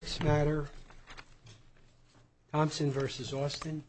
This matter, Thompson v. Austin.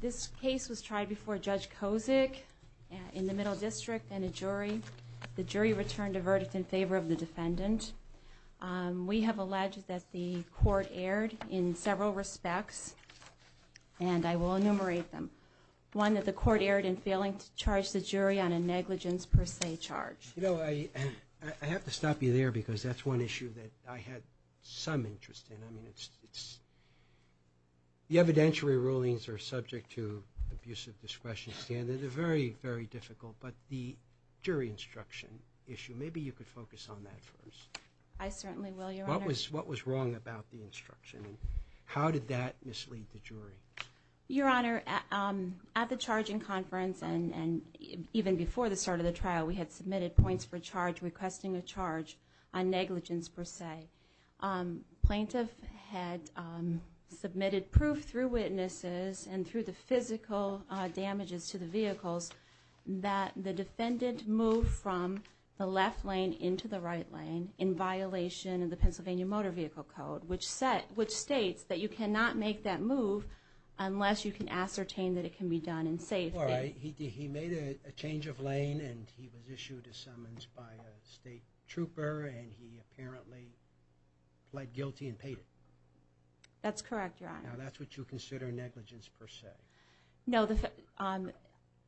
This case was tried before Judge Kozik in the Middle District and a jury. The jury returned a verdict in favor of the defendant. We have alleged that the court erred in several respects and I will enumerate them. One that the court erred in failing to charge the jury on a negligence per se charge. I have to stop you there because that's one issue that I had some interest in. The evidentiary rulings are subject to abusive discretion standards. They're very, very difficult, but the jury instruction issue, maybe you could focus on that first. I certainly will, Your Honor. What was wrong about the instruction and how did that mislead the jury? Your Honor, at the charging conference and even before the start of the trial, we had submitted points for charge requesting a charge on negligence per se. Plaintiff had submitted proof through witnesses and through the physical damages to the vehicles that the defendant moved from the left lane into the right lane in violation of the Pennsylvania Code. You cannot make that move unless you can ascertain that it can be done in safety. All right. He made a change of lane and he was issued a summons by a state trooper and he apparently pled guilty and paid it. That's correct, Your Honor. Now that's what you consider negligence per se. No,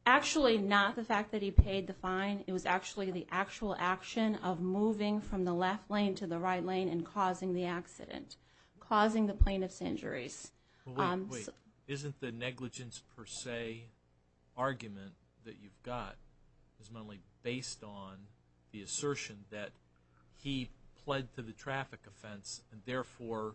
actually not the fact that he paid the fine. It was actually the actual action of moving from the left lane to the right lane and causing the accident, causing the plaintiff's injuries. Wait, wait. Isn't the negligence per se argument that you've got is mainly based on the assertion that he pled to the traffic offense and therefore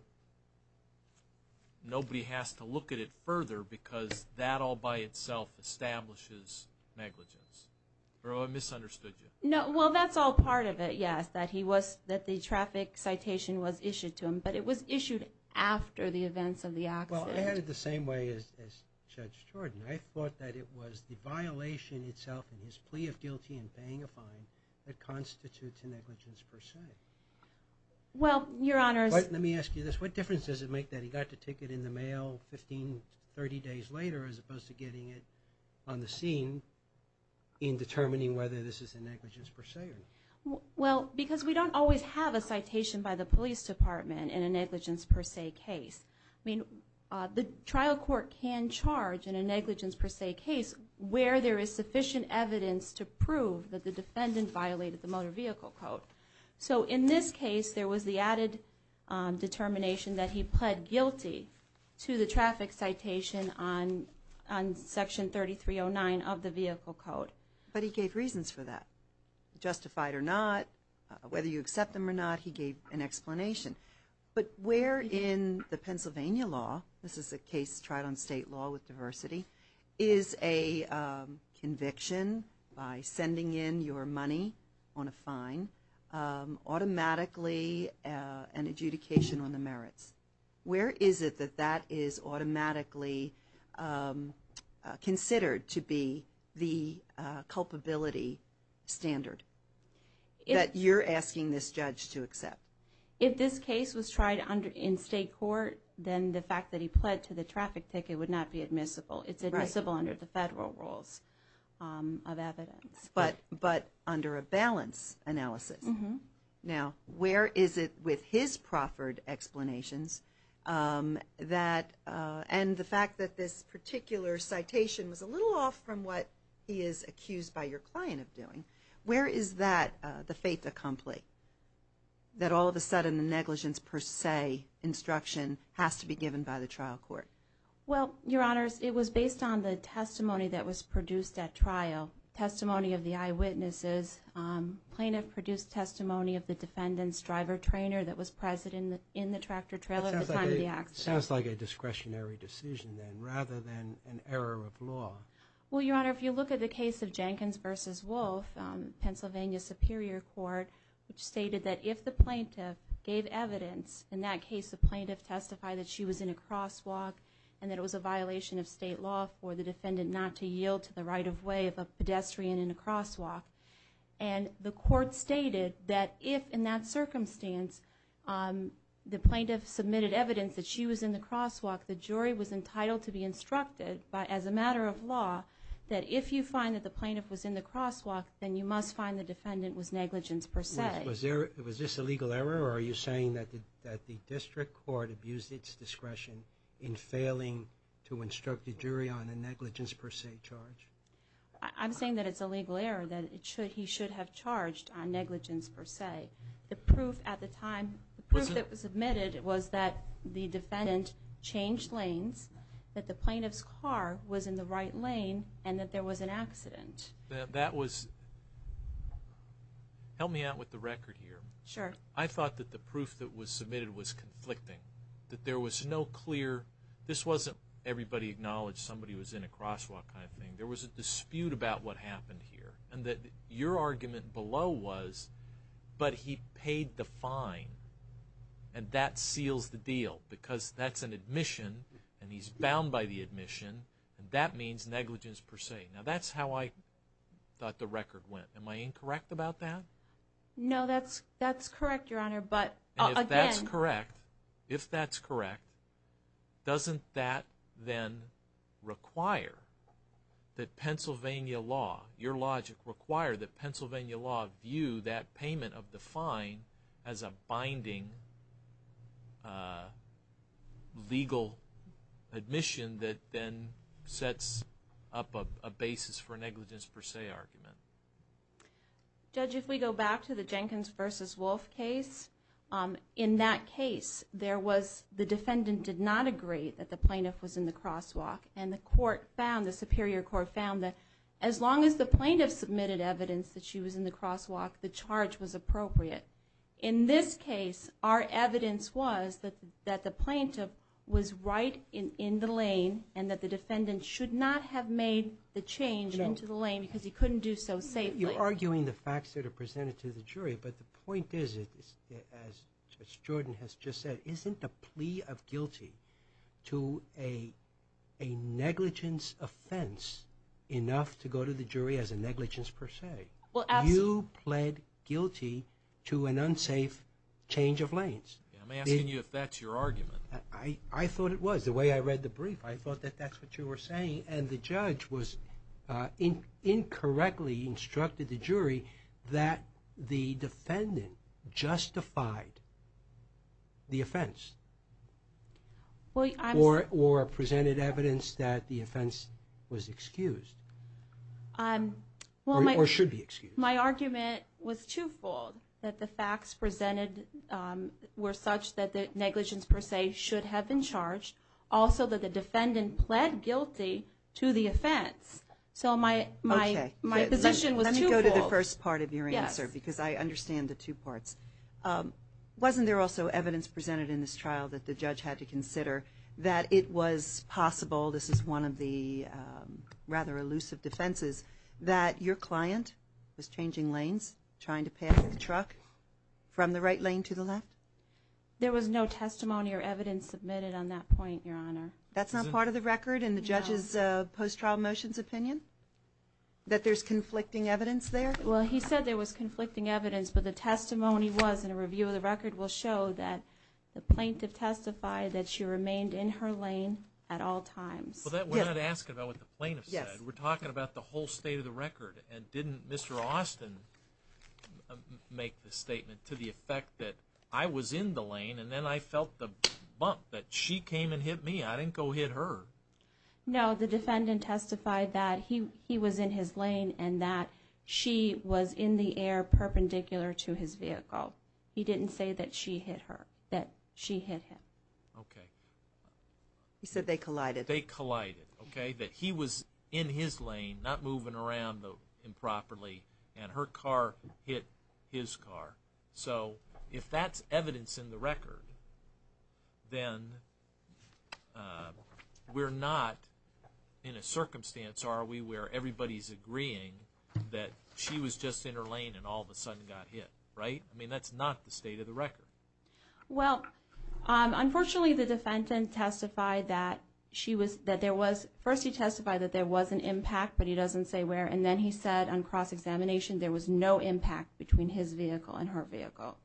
nobody has to look at it further because that all by itself establishes negligence? Or I misunderstood you. No, well that's all part of it, yes. The traffic citation was issued to him, but it was issued after the events of the accident. Well, I had it the same way as Judge Jordan. I thought that it was the violation itself and his plea of guilty and paying a fine that constitutes a negligence per se. Well, Your Honor. Let me ask you this. What difference does it make that he got the ticket in the mail 15, 30 days later as opposed to getting it on the scene in determining whether this is a negligence per se or not? Well, because we don't always have a citation by the police department in a negligence per se case. I mean, the trial court can charge in a negligence per se case where there is sufficient evidence to prove that the defendant violated the motor vehicle code. So in this case, there was the added determination that he pled guilty to the traffic citation on section 3309 of the vehicle code. But he gave reasons for that. Justified or not, whether you accept them or not, he gave an explanation. But where in the Pennsylvania law, this is a case tried on state law with diversity, is a conviction by sending in your money on a fine automatically an adjudication on the merits? Where is it that that is automatically considered to be the culpability standard that you're asking this judge to accept? If this case was tried in state court, then the fact that he pled to the traffic ticket would not be admissible. It's admissible under the federal rules of evidence. But under a balance analysis? Mm-hmm. Now, where is it with his proffered explanations that, and the fact that this particular citation was a little off from what he is accused by your client of doing, where is that, the fait accompli, that all of a sudden the negligence per se instruction has to be given by the trial court? Well, Your Honors, it was based on the testimony that was produced at trial, testimony of the defendant's driver trainer that was present in the tractor trailer at the time of the accident. It sounds like a discretionary decision then, rather than an error of law. Well, Your Honor, if you look at the case of Jenkins v. Wolf, Pennsylvania Superior Court, which stated that if the plaintiff gave evidence, in that case the plaintiff testified that she was in a crosswalk and that it was a violation of state law for the defendant not to yield to the right of way of a pedestrian in a crosswalk. And the court stated that if, in that circumstance, the plaintiff submitted evidence that she was in the crosswalk, the jury was entitled to be instructed, as a matter of law, that if you find that the plaintiff was in the crosswalk, then you must find the defendant was negligent per se. Was this a legal error, or are you saying that the district court abused its discretion in failing to instruct the jury on a negligence per se charge? I'm saying that it's a legal error, that he should have charged on negligence per se. The proof at the time, the proof that was submitted was that the defendant changed lanes, that the plaintiff's car was in the right lane, and that there was an accident. That was, help me out with the record here. Sure. I thought that the proof that was submitted was conflicting. That there was no clear, this wasn't everybody acknowledged somebody was in a crosswalk kind of thing. There was a dispute about what happened here, and that your argument below was, but he paid the fine, and that seals the deal, because that's an admission, and he's bound by the admission, and that means negligence per se. Now, that's how I thought the record went. Am I incorrect about that? No, that's correct, Your Honor, but again... that Pennsylvania law, your logic required that Pennsylvania law view that payment of the fine as a binding legal admission that then sets up a basis for negligence per se argument. Judge, if we go back to the Jenkins versus Wolfe case, in that case, there was, the defendant did not agree that the plaintiff was in the crosswalk, and the court found the superior court found that as long as the plaintiff submitted evidence that she was in the crosswalk, the charge was appropriate. In this case, our evidence was that the plaintiff was right in the lane, and that the defendant should not have made the change into the lane, because he couldn't do so safely. You're arguing the facts that are presented to the jury, but the point is, as Judge Jordan has just said, isn't a plea of guilty to a negligence offense enough to go to the jury as a negligence per se? You pled guilty to an unsafe change of lanes. I'm asking you if that's your argument. I thought it was. The way I read the brief, I thought that that's what you were saying, and the judge was, incorrectly instructed the jury that the defendant justified the offense, or presented evidence that the offense was excused, or should be excused. My argument was twofold, that the facts presented were such that the negligence per se should have been charged, also that the defendant pled guilty to the offense. So my position was twofold. Let me go to the first part of your answer, because I understand the two parts. Wasn't there also evidence presented in this trial that the judge had to consider that it was possible, this is one of the rather elusive defenses, that your client was changing lanes, trying to pass the truck from the right lane to the left? There was no testimony or evidence submitted on that point, Your Honor. That's not part of the record in the judge's post-trial motions opinion, that there's conflicting evidence there? Well, he said there was conflicting evidence, but the testimony was, and a review of the record will show, that the plaintiff testified that she remained in her lane at all times. Well, we're not asking about what the plaintiff said. We're talking about the whole state of the record. And didn't Mr. Austin make the statement to the effect that I was in the lane, and then I felt the bump, that she came and hit me. I didn't go hit her. No, the defendant testified that he was in his lane and that she was in the air perpendicular to his vehicle. He didn't say that she hit him. Okay. He said they collided. They collided, okay, that he was in his lane, not moving around improperly, and her car hit his car. So if that's evidence in the record, then we're not in a circumstance, are we, where everybody's agreeing that she was just in her lane and all of a sudden got hit, right? I mean, that's not the state of the record. Well, unfortunately, the defendant testified that she was, that there was, first he testified that there was an impact, but he doesn't say where, and then he said on cross-examination there was no impact between his vehicle and her vehicle.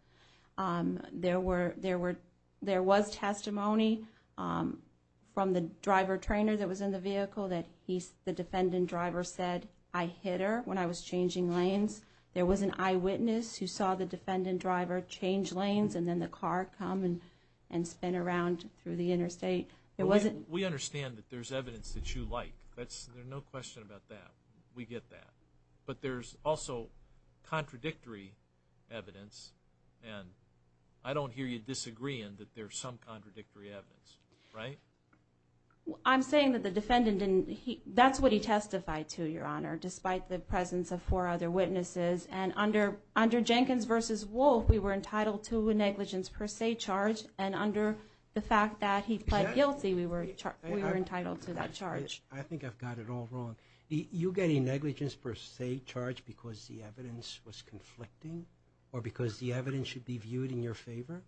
There were, there was testimony from the driver trainer that was in the vehicle that the defendant driver said, I hit her when I was changing lanes. There was an eyewitness who saw the defendant driver change lanes and then the car come and spin around through the interstate. We understand that there's evidence that you like. There's no question about that. We get that. But there's also contradictory evidence, and I don't hear you disagreeing that there's some contradictory evidence, right? I'm saying that the defendant didn't, that's what he testified to, Your Honor, despite the presence of four other witnesses. And under Jenkins v. Wolfe, we were entitled to a negligence per se charge, and under the fact that he pled guilty, we were entitled to that charge. I think I've got it all wrong. You get a negligence per se charge because the evidence was conflicting or because the evidence should be viewed in your favor?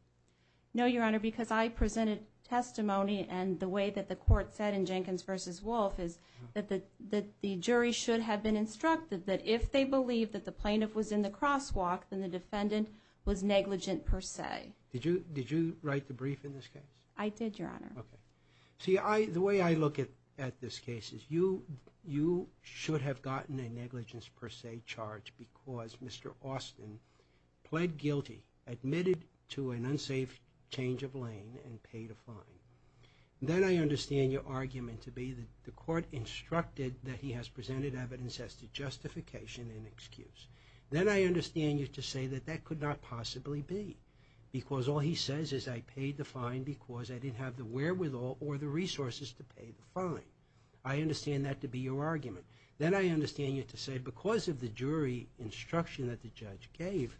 No, Your Honor, because I presented testimony, and the way that the court said in Jenkins v. Wolfe is that the jury should have been instructed that if they believed that the plaintiff was in the crosswalk, then the defendant was negligent per se. Did you write the brief in this case? I did, Your Honor. Okay. See, the way I look at this case is you should have gotten a negligence per se charge because Mr. Austin pled guilty, admitted to an unsafe change of lane, and paid a fine. Then I understand your argument to be that the court instructed that he has presented evidence as to justification and excuse. Then I understand you to say that that could not possibly be because all he says is I paid the fine because I didn't have the wherewithal or the resources to pay the fine. I understand that to be your argument. Then I understand you to say because of the jury instruction that the judge gave,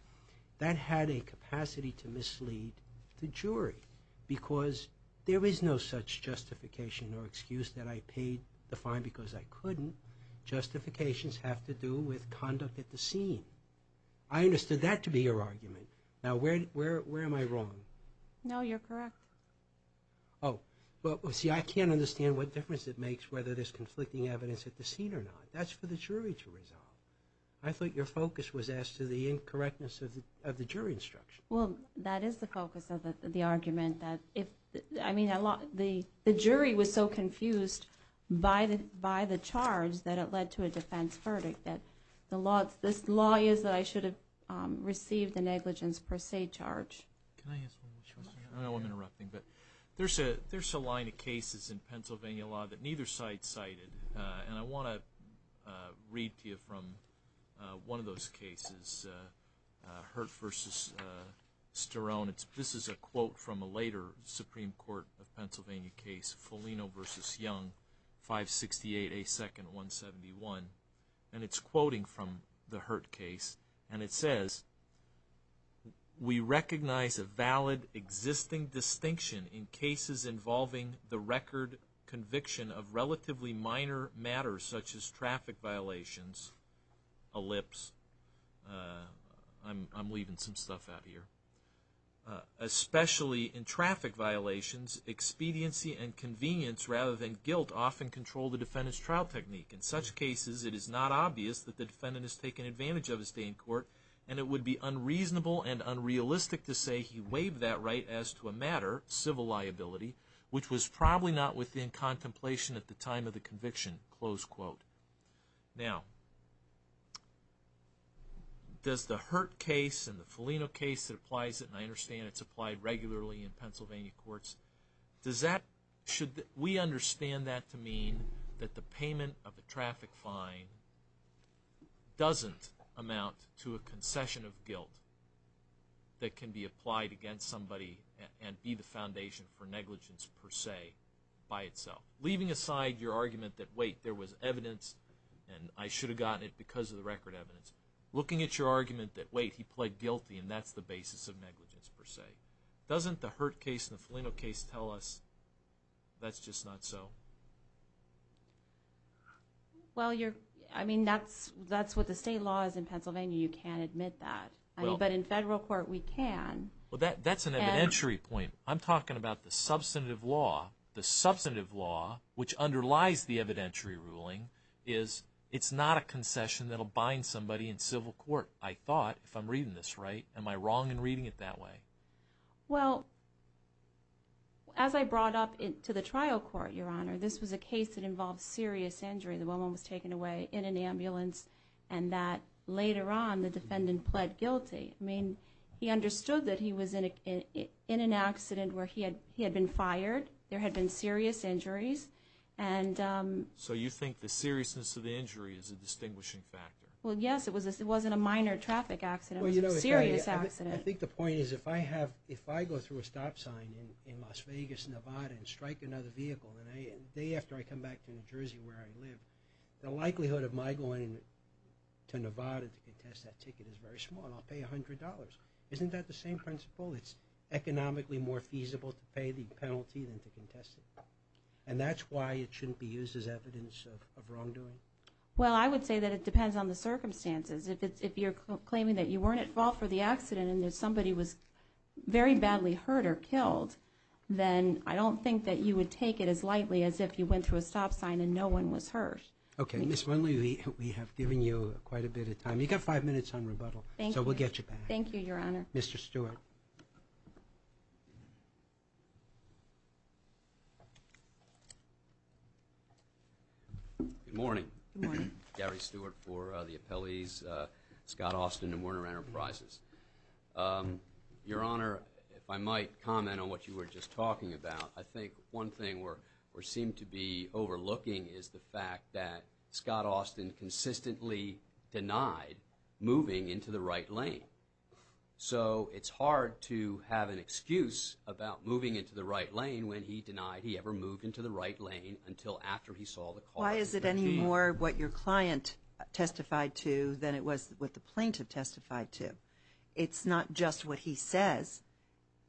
that had a capacity to mislead the jury because there is no such justification or excuse that I paid the fine because I couldn't. Justifications have to do with conduct at the scene. I understood that to be your argument. Now, where am I wrong? No, you're correct. Oh. Well, see, I can't understand what difference it makes whether there's conflicting evidence at the scene or not. That's for the jury to resolve. I thought your focus was as to the incorrectness of the jury instruction. Well, that is the focus of the argument. I mean, the jury was so confused by the charge that it led to a defense verdict. The law is that I should have received the negligence per se charge. Can I ask one more question? I know I'm interrupting, but there's a line of cases in Pennsylvania law that neither side cited, and I want to read to you from one of those cases, Hurt v. Sterone. This is a quote from a later Supreme Court of Pennsylvania case, Foligno v. Young, 568A2-171, and it's quoting from the Hurt case, and it says, we recognize a valid existing distinction in cases involving the record conviction of relatively minor matters such as traffic violations, especially in traffic violations, expediency and convenience rather than guilt often control the defendant's trial technique. In such cases, it is not obvious that the defendant has taken advantage of his day in court, and it would be unreasonable and unrealistic to say he waived that right as to a matter, civil liability, which was probably not within contemplation at the time of the conviction, close quote. Now, does the Hurt case and the Foligno case that applies it, and I understand it's applied regularly in Pennsylvania courts, should we understand that to mean that the payment of a traffic fine doesn't amount to a concession of guilt that can be applied against somebody and be the foundation for negligence per se by itself? Leaving aside your argument that, wait, there was evidence, and I should have gotten it because of the record evidence, looking at your argument that, wait, he pled guilty, and that's the basis of negligence per se, doesn't the Hurt case and the Foligno case tell us that's just not so? Well, I mean, that's what the state law is in Pennsylvania. You can't admit that, but in federal court, we can. Well, that's an evidentiary point. I'm talking about the substantive law. The substantive law, which underlies the evidentiary ruling, is it's not a concession that will bind somebody in civil court, I thought, if I'm reading this right. Am I wrong in reading it that way? Well, as I brought up to the trial court, Your Honor, this was a case that involved serious injury. The woman was taken away in an ambulance, and that later on the defendant pled guilty. I mean, he understood that he was in an accident where he had been fired. There had been serious injuries. So you think the seriousness of the injury is a distinguishing factor? Well, yes, it wasn't a minor traffic accident. It was a serious accident. I think the point is if I go through a stop sign in Las Vegas, Nevada, and strike another vehicle, and the day after I come back to New Jersey where I live, the likelihood of my going to Nevada to contest that ticket is very small, and I'll pay $100. Isn't that the same principle? It's economically more feasible to pay the penalty than to contest it. And that's why it shouldn't be used as evidence of wrongdoing? Well, I would say that it depends on the circumstances. If you're claiming that you weren't involved for the accident and that somebody was very badly hurt or killed, then I don't think that you would take it as lightly as if you went through a stop sign and no one was hurt. Okay. Ms. Winley, we have given you quite a bit of time. You've got five minutes on rebuttal, so we'll get you back. Thank you, Your Honor. Mr. Stewart. Good morning. Good morning. Gary Stewart for the appellees, Scott Austin and Warner Enterprises. Your Honor, if I might comment on what you were just talking about, I think one thing we seem to be overlooking is the fact that Scott Austin consistently denied moving into the right lane. So it's hard to have an excuse about moving into the right lane when he denied he ever moved into the right lane until after he saw the car. Why is it any more what your client testified to than it was what the plaintiff testified to? It's not just what he says.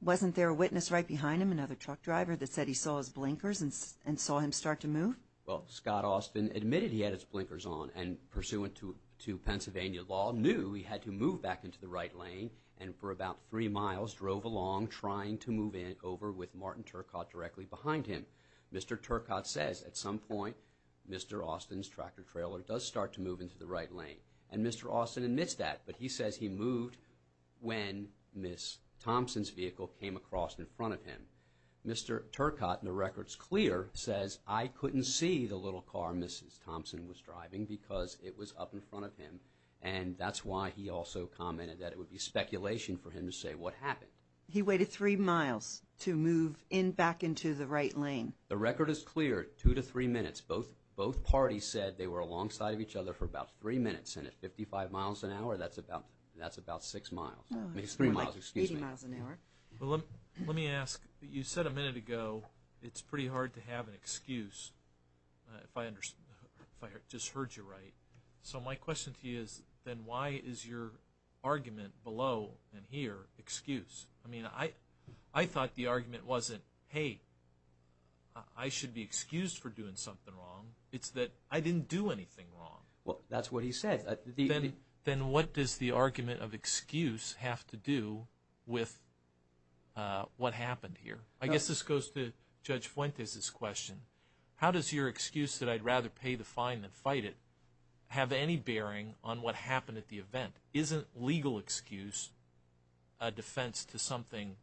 Wasn't there a witness right behind him, another truck driver, that said he saw his blinkers and saw him start to move? Well, Scott Austin admitted he had his blinkers on and pursuant to Pennsylvania law knew he had to move back into the right lane and for about three miles drove along trying to move over with Martin Turcotte directly behind him. Mr. Turcotte says at some point Mr. Austin's tractor trailer does start to move into the right lane, and Mr. Austin admits that, but he says he moved when Ms. Thompson's vehicle came across in front of him. Mr. Turcotte, and the record's clear, says, I couldn't see the little car Mrs. Thompson was driving because it was up in front of him, and that's why he also commented that it would be speculation for him to say what happened. He waited three miles to move back into the right lane. The record is clear, two to three minutes. Both parties said they were alongside of each other for about three minutes, and at 55 miles an hour, that's about six miles. Oh, that's more like 80 miles an hour. Let me ask, you said a minute ago it's pretty hard to have an excuse, if I just heard you right. So my question to you is, then why is your argument below and here excuse? I mean, I thought the argument wasn't, hey, I should be excused for doing something wrong. It's that I didn't do anything wrong. Well, that's what he said. Then what does the argument of excuse have to do with what happened here? I guess this goes to Judge Fuentes' question. How does your excuse that I'd rather pay the fine than fight it have any bearing on what happened at the event? Isn't legal excuse a defense to something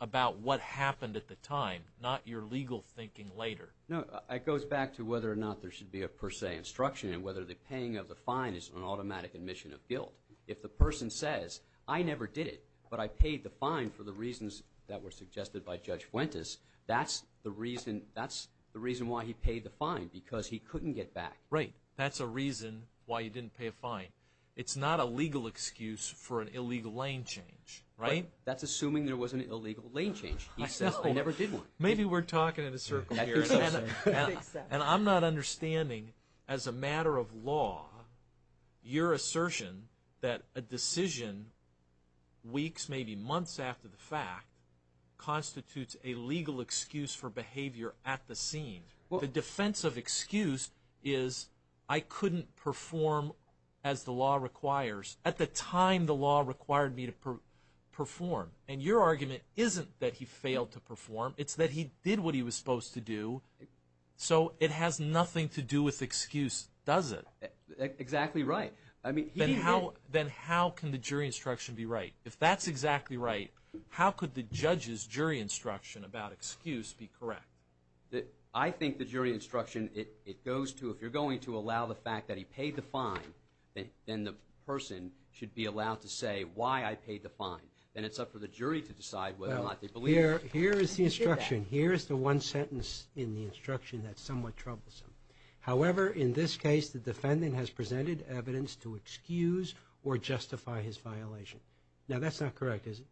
about what happened at the time, not your legal thinking later? No, it goes back to whether or not there should be a per se instruction and whether the paying of the fine is an automatic admission of guilt. If the person says, I never did it, but I paid the fine for the reasons that were suggested by Judge Fuentes, that's the reason why he paid the fine, because he couldn't get back. Right, that's a reason why he didn't pay a fine. It's not a legal excuse for an illegal lane change, right? That's assuming there was an illegal lane change. He says, I never did one. Maybe we're talking in a circle here. And I'm not understanding, as a matter of law, your assertion that a decision weeks, maybe months after the fact, constitutes a legal excuse for behavior at the scene. The defense of excuse is, I couldn't perform as the law requires. At the time, the law required me to perform. And your argument isn't that he failed to perform. It's that he did what he was supposed to do. So it has nothing to do with excuse, does it? Exactly right. Then how can the jury instruction be right? If that's exactly right, how could the judge's jury instruction about excuse be correct? I think the jury instruction, it goes to, if you're going to allow the fact that he paid the fine, then the person should be allowed to say why I paid the fine. Then it's up to the jury to decide whether or not they believe it. Here is the instruction. Here is the one sentence in the instruction that's somewhat troublesome. However, in this case, the defendant has presented evidence to excuse or justify his violation. Now, that's not correct, is it?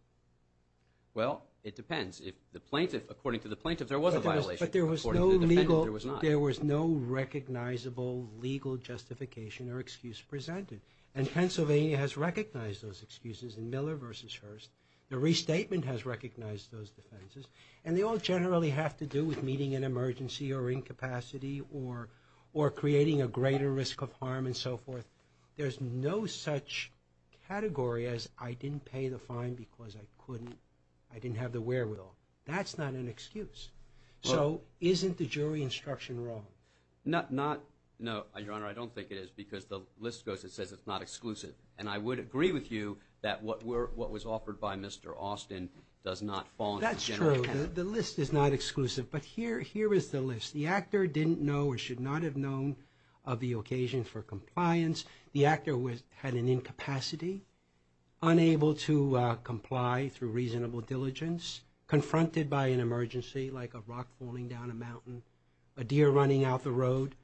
Well, it depends. According to the plaintiff, there was a violation. According to the defendant, there was not. But there was no legal, there was no recognizable legal justification or excuse presented. And Pennsylvania has recognized those excuses in Miller v. Hurst. The restatement has recognized those defenses. And they all generally have to do with meeting an emergency or incapacity or creating a greater risk of harm and so forth. There's no such category as I didn't pay the fine because I couldn't, I didn't have the wherewithal. That's not an excuse. So isn't the jury instruction wrong? Not, no, Your Honor, I don't think it is because the list goes, it says it's not exclusive. And I would agree with you that what was offered by Mr. Austin does not fall under this general category. That's true. The list is not exclusive. But here is the list. The actor didn't know or should not have known of the occasion for compliance. The actor had an incapacity, unable to comply through reasonable diligence, confronted by an emergency like a rock falling down a mountain, a deer running out the road,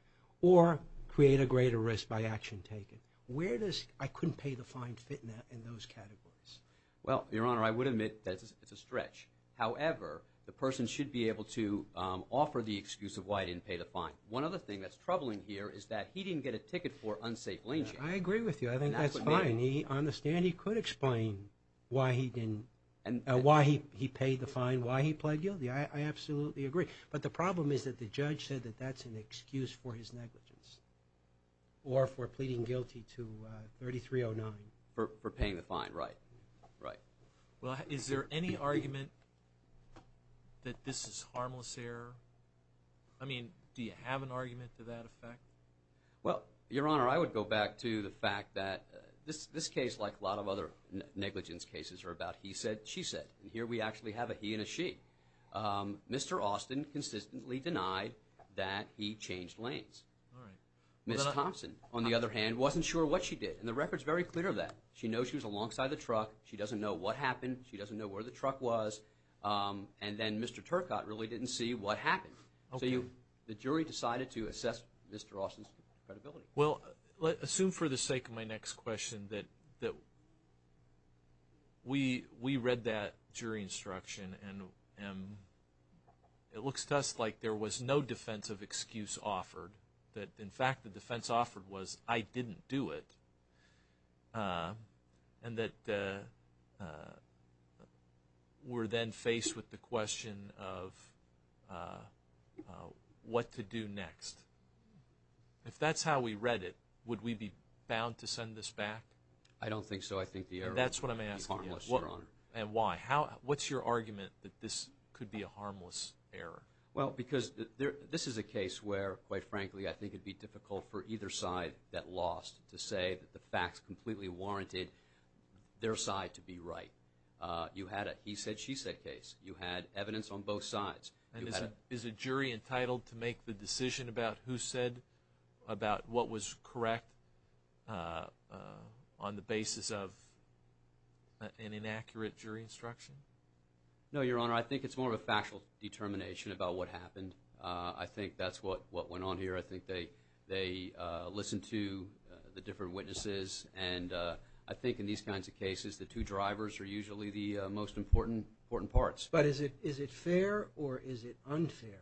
or create a greater risk by action taken. Where does I couldn't pay the fine fit in those categories? Well, Your Honor, I would admit that it's a stretch. However, the person should be able to offer the excuse of why he didn't pay the fine. One other thing that's troubling here is that he didn't get a ticket for unsafe lane change. I agree with you. I think that's fine. On the stand he could explain why he didn't, why he paid the fine, why he pled guilty. I absolutely agree. But the problem is that the judge said that that's an excuse for his negligence or for pleading guilty to 3309. For paying the fine. Right. Right. Well, is there any argument that this is harmless error? I mean, do you have an argument to that effect? Well, Your Honor, I would go back to the fact that this case, like a lot of other negligence cases, are about he said, she said. And here we actually have a he and a she. Mr. Austin consistently denied that he changed lanes. Ms. Thompson, on the other hand, wasn't sure what she did. And the record's very clear of that. She knows she was alongside the truck. She doesn't know what happened. She doesn't know where the truck was. And then Mr. Turcotte really didn't see what happened. So the jury decided to assess Mr. Austin's credibility. Well, assume for the sake of my next question that we read that jury instruction and it looks to us like there was no defensive excuse offered. That, in fact, the defense offered was, I didn't do it. And that we're then faced with the question of what to do next. If that's how we read it, would we be bound to send this back? I don't think so. I think the error would be harmless, Your Honor. That's what I'm asking you. And why? What's your argument that this could be a harmless error? Well, because this is a case where, quite frankly, I think it would be difficult for either side that lost to say that the facts completely warranted their side to be right. You had a he said, she said case. You had evidence on both sides. And is a jury entitled to make the decision about who said about what was correct on the basis of an inaccurate jury instruction? No, Your Honor. I think it's more of a factual determination about what happened. I think that's what went on here. I think they listened to the different witnesses, and I think in these kinds of cases the two drivers are usually the most important parts. But is it fair or is it unfair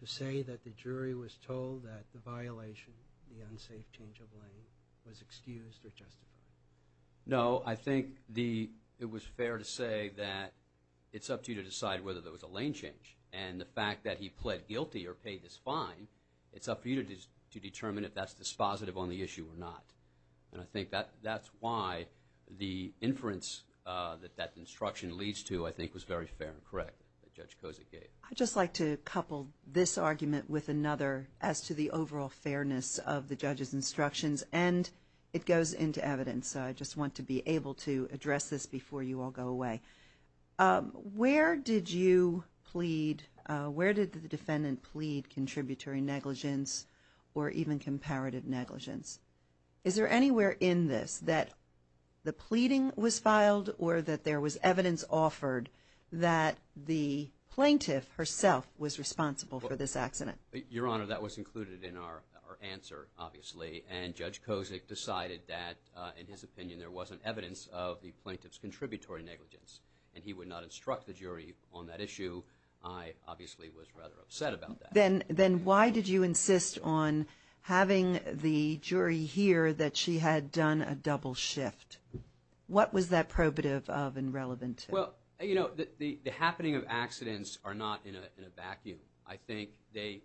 to say that the jury was told that the violation, the unsafe change of lane, was excused or justified? No. I think it was fair to say that it's up to you to decide whether there was a lane change. And the fact that he pled guilty or paid this fine, it's up to you to determine if that's dispositive on the issue or not. And I think that's why the inference that that instruction leads to, I think, was very fair and correct that Judge Kozak gave. I'd just like to couple this argument with another as to the overall fairness of the judge's instructions, and it goes into evidence, so I just want to be able to address this before you all go away. Where did you plead? Where did the defendant plead contributory negligence or even comparative negligence? Is there anywhere in this that the pleading was filed or that there was evidence offered that the plaintiff herself was responsible for this accident? Your Honor, that was included in our answer, obviously, and Judge Kozak decided that, in his opinion, there wasn't evidence of the plaintiff's contributory negligence, and he would not instruct the jury on that issue. I obviously was rather upset about that. Then why did you insist on having the jury hear that she had done a double shift? What was that probative of and relevant to? Well, you know, the happening of accidents are not in a vacuum. I think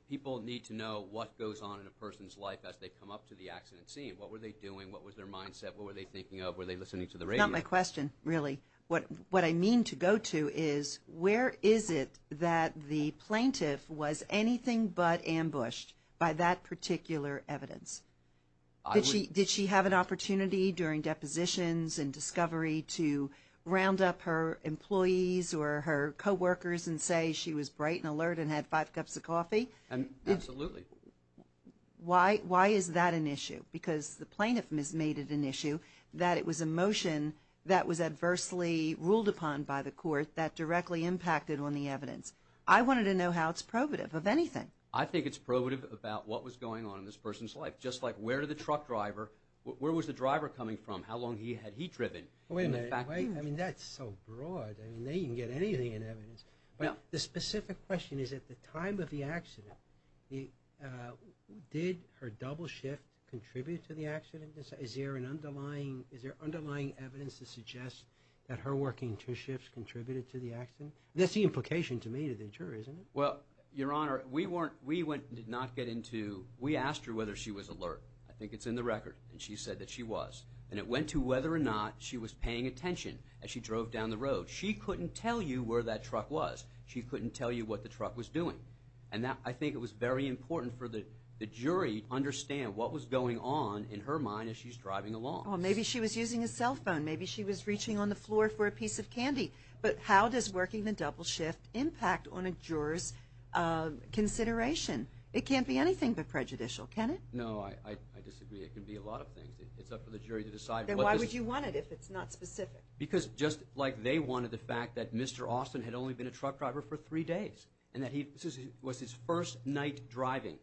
people need to know what goes on in a person's life as they come up to the accident scene. What were they doing? What was their mindset? What were they thinking of? Were they listening to the radio? Not my question, really. What I mean to go to is where is it that the plaintiff was anything but ambushed by that particular evidence? Did she have an opportunity during depositions and discovery to round up her employees or her coworkers and say she was bright and alert and had five cups of coffee? Absolutely. Why is that an issue? Because the plaintiff has made it an issue that it was a motion that was adversely ruled upon by the court that directly impacted on the evidence. I wanted to know how it's probative of anything. I think it's probative about what was going on in this person's life, just like where did the truck driver – where was the driver coming from? How long had he driven? That's so broad. They can get anything in evidence. The specific question is at the time of the accident, did her double shift contribute to the accident? Is there underlying evidence to suggest that her working two shifts contributed to the accident? That's the implication to me to the juror, isn't it? Well, Your Honor, we went and did not get into – we asked her whether she was alert. I think it's in the record. And she said that she was. And it went to whether or not she was paying attention as she drove down the road. She couldn't tell you where that truck was. She couldn't tell you what the truck was doing. And I think it was very important for the jury to understand what was going on in her mind as she's driving along. Well, maybe she was using a cell phone. Maybe she was reaching on the floor for a piece of candy. But how does working the double shift impact on a juror's consideration? It can't be anything but prejudicial, can it? No, I disagree. It can be a lot of things. It's up for the jury to decide. Then why would you want it if it's not specific? Because just like they wanted the fact that Mr. Austin had only been a truck driver for three days and that this was his first night driving,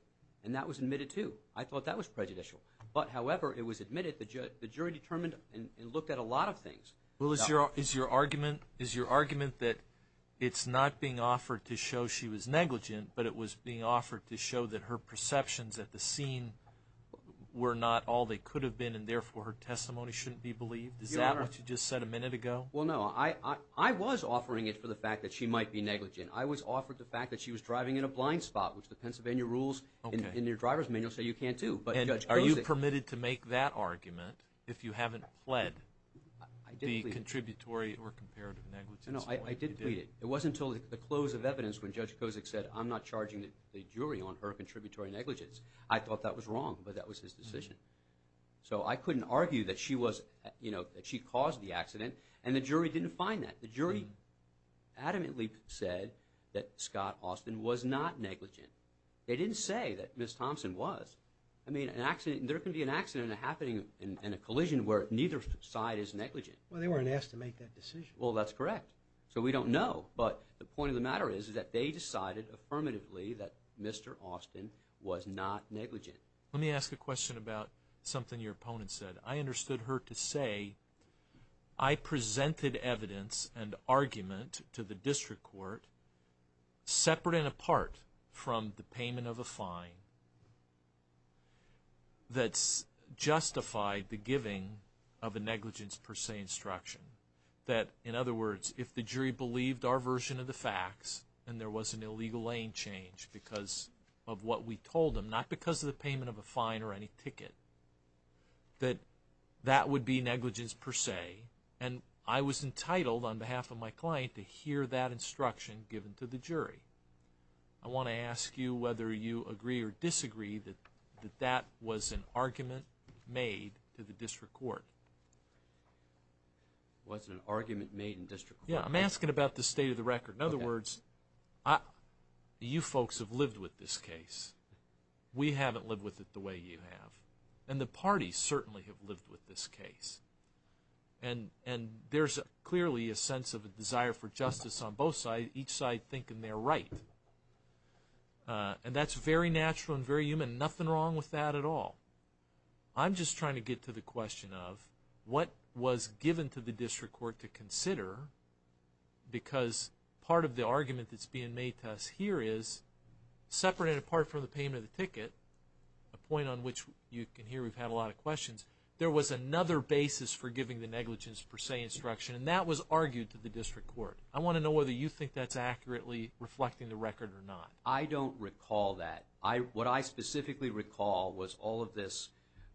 and that was admitted too. I thought that was prejudicial. But, however, it was admitted. The jury determined and looked at a lot of things. Well, is your argument that it's not being offered to show she was negligent, but it was being offered to show that her perceptions at the scene were not all they could have been and, therefore, her testimony shouldn't be believed? Is that what you just said a minute ago? Well, no. I was offering it for the fact that she might be negligent. I was offered the fact that she was driving in a blind spot, which the Pennsylvania rules in your driver's manual say you can't do. And are you permitted to make that argument if you haven't pled the contributory or comparative negligence? No, I did plead it. It wasn't until the close of evidence when Judge Kozik said, I'm not charging the jury on her contributory negligence. I thought that was wrong, but that was his decision. So I couldn't argue that she caused the accident, and the jury didn't find that. The jury adamantly said that Scott Austin was not negligent. They didn't say that Ms. Thompson was. I mean, there can be an accident happening in a collision where neither side is negligent. Well, they weren't asked to make that decision. Well, that's correct. So we don't know. But the point of the matter is that they decided affirmatively that Mr. Austin was not negligent. Let me ask a question about something your opponent said. I understood her to say, I presented evidence and argument to the district court separate and apart from the payment of a fine that justified the giving of a negligence per se instruction. That, in other words, if the jury believed our version of the facts, and there was an illegal lane change because of what we told them, not because of the payment of a fine or any ticket, that that would be negligence per se. And I was entitled, on behalf of my client, to hear that instruction given to the jury. I want to ask you whether you agree or disagree that that was an argument made to the district court. It wasn't an argument made in district court. Yeah, I'm asking about the state of the record. In other words, you folks have lived with this case. We haven't lived with it the way you have. And the parties certainly have lived with this case. And there's clearly a sense of a desire for justice on both sides. Each side thinking they're right. And that's very natural and very human. Nothing wrong with that at all. I'm just trying to get to the question of what was given to the district court to consider because part of the argument that's being made to us here is, separate and apart from the payment of the ticket, a point on which you can hear we've had a lot of questions, there was another basis for giving the negligence per se instruction, and that was argued to the district court. I want to know whether you think that's accurately reflecting the record or not. I don't recall that. What I specifically recall was all of this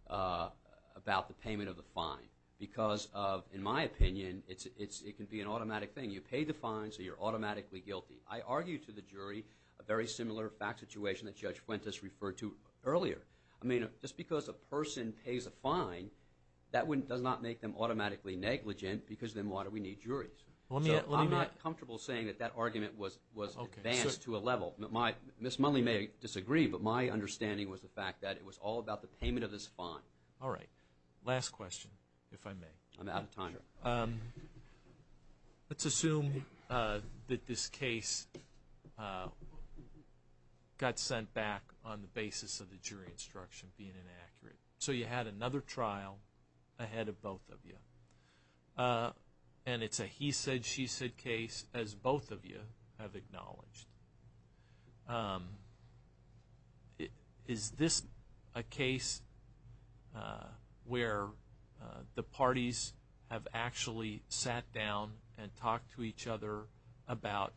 about the payment of the fine because, in my opinion, it can be an automatic thing. You pay the fine, so you're automatically guilty. I argue to the jury a very similar fact situation that Judge Fuentes referred to earlier. I mean, just because a person pays a fine, that does not make them automatically negligent because then why do we need juries? So I'm not comfortable saying that that argument was advanced to a level. Ms. Munley may disagree, but my understanding was the fact that it was all about the payment of this fine. All right. Last question, if I may. I'm out of time. Let's assume that this case got sent back on the basis of the jury instruction being inaccurate. So you had another trial ahead of both of you, and it's a he said, she said case, as both of you have acknowledged. Is this a case where the parties have actually sat down and talked to each other about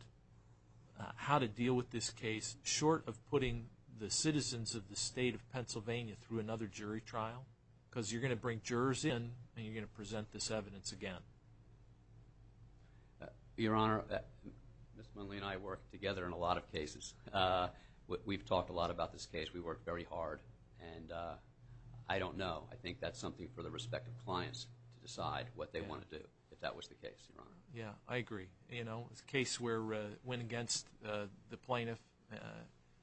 how to deal with this case short of putting the citizens of the state of Pennsylvania through another jury trial? Because you're going to bring jurors in, and you're going to present this evidence again. Your Honor, Ms. Munley and I work together in a lot of cases. We've talked a lot about this case. We work very hard, and I don't know. I think that's something for the respective clients to decide what they want to do, if that was the case, Your Honor. Yeah, I agree. You know, it's a case where it went against the plaintiff,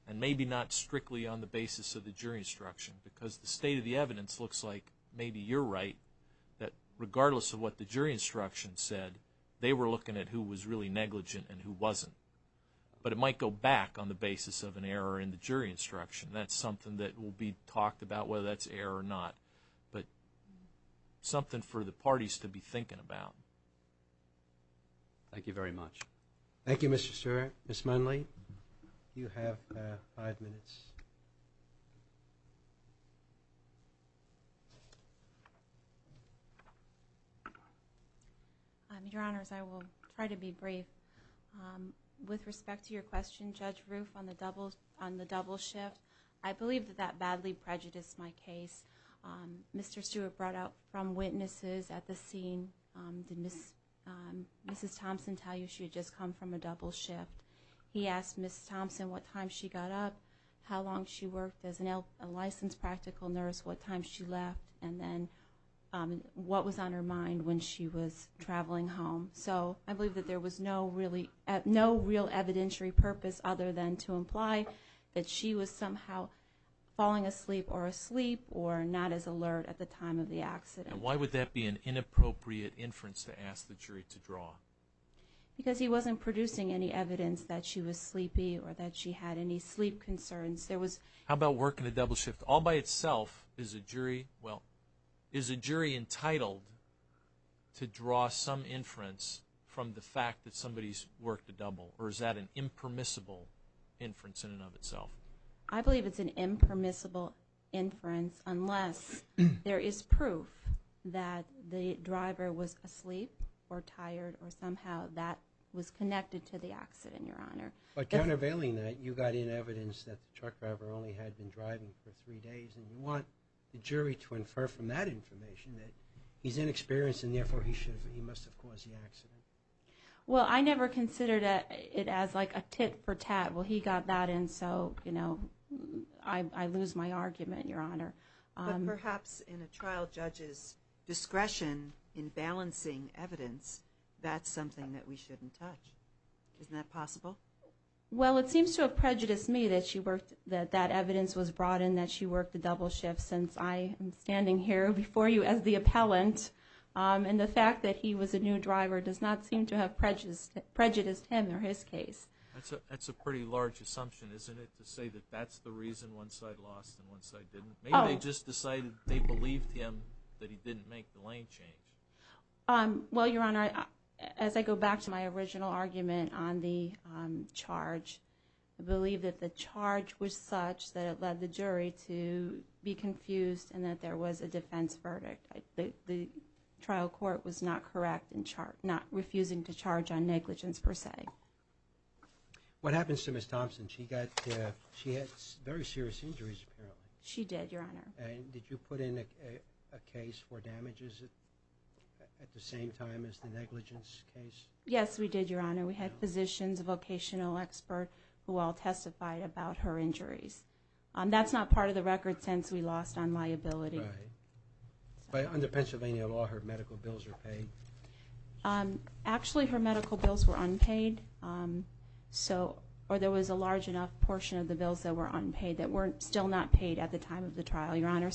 and maybe not strictly on the basis of the jury instruction because the state of the evidence looks like maybe you're right, that regardless of what the jury instruction said, they were looking at who was really negligent and who wasn't. But it might go back on the basis of an error in the jury instruction. That's something that will be talked about, whether that's error or not, but something for the parties to be thinking about. Thank you very much. Thank you, Mr. Stewart. All right, Ms. Munley, you have five minutes. Your Honors, I will try to be brief. With respect to your question, Judge Roof, on the double shift, I believe that that badly prejudiced my case. Mr. Stewart brought out from witnesses at the scene, did Mrs. Thompson tell you she had just come from a double shift? He asked Mrs. Thompson what time she got up, how long she worked as a licensed practical nurse, what time she left, and then what was on her mind when she was traveling home. So I believe that there was no real evidentiary purpose other than to imply that she was somehow falling asleep or asleep or not as alert at the time of the accident. And why would that be an inappropriate inference to ask the jury to draw? Because he wasn't producing any evidence that she was sleepy or that she had any sleep concerns. How about work in a double shift? All by itself, is a jury entitled to draw some inference from the fact that somebody's worked a double, or is that an impermissible inference in and of itself? I believe it's an impermissible inference unless there is proof that the driver was asleep or tired or somehow that was connected to the accident, Your Honor. But countervailing that, you got in evidence that the truck driver only had been driving for three days, and you want the jury to infer from that information that he's inexperienced and therefore he must have caused the accident. Well, I never considered it as like a tit for tat. Well, he got that in, so I lose my argument, Your Honor. But perhaps in a trial judge's discretion in balancing evidence, that's something that we shouldn't touch. Isn't that possible? Well, it seems to have prejudiced me that that evidence was brought in that she worked a double shift since I am standing here before you as the appellant. And the fact that he was a new driver does not seem to have prejudiced him or his case. That's a pretty large assumption, isn't it, to say that that's the reason one side lost and one side didn't? Maybe they just decided they believed him that he didn't make the lane change. Well, Your Honor, as I go back to my original argument on the charge, I believe that the charge was such that it led the jury to be confused and that there was a defense verdict. The trial court was not correct in not refusing to charge on negligence per se. What happens to Ms. Thompson? She had very serious injuries, apparently. She did, Your Honor. And did you put in a case for damages at the same time as the negligence case? Yes, we did, Your Honor. We had physicians, a vocational expert, who all testified about her injuries. That's not part of the record since we lost on liability. Under Pennsylvania law, her medical bills are paid? Actually, her medical bills were unpaid. There was a large enough portion of the bills that were unpaid that were still not paid at the time of the trial, Your Honor.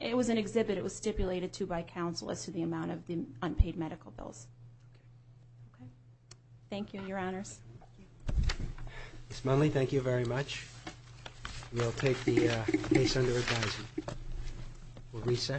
It was an exhibit. It was stipulated to by counsel as to the amount of the unpaid medical bills. Thank you, Your Honors. Ms. Munley, thank you very much. We'll take the case under advisement. We'll recess.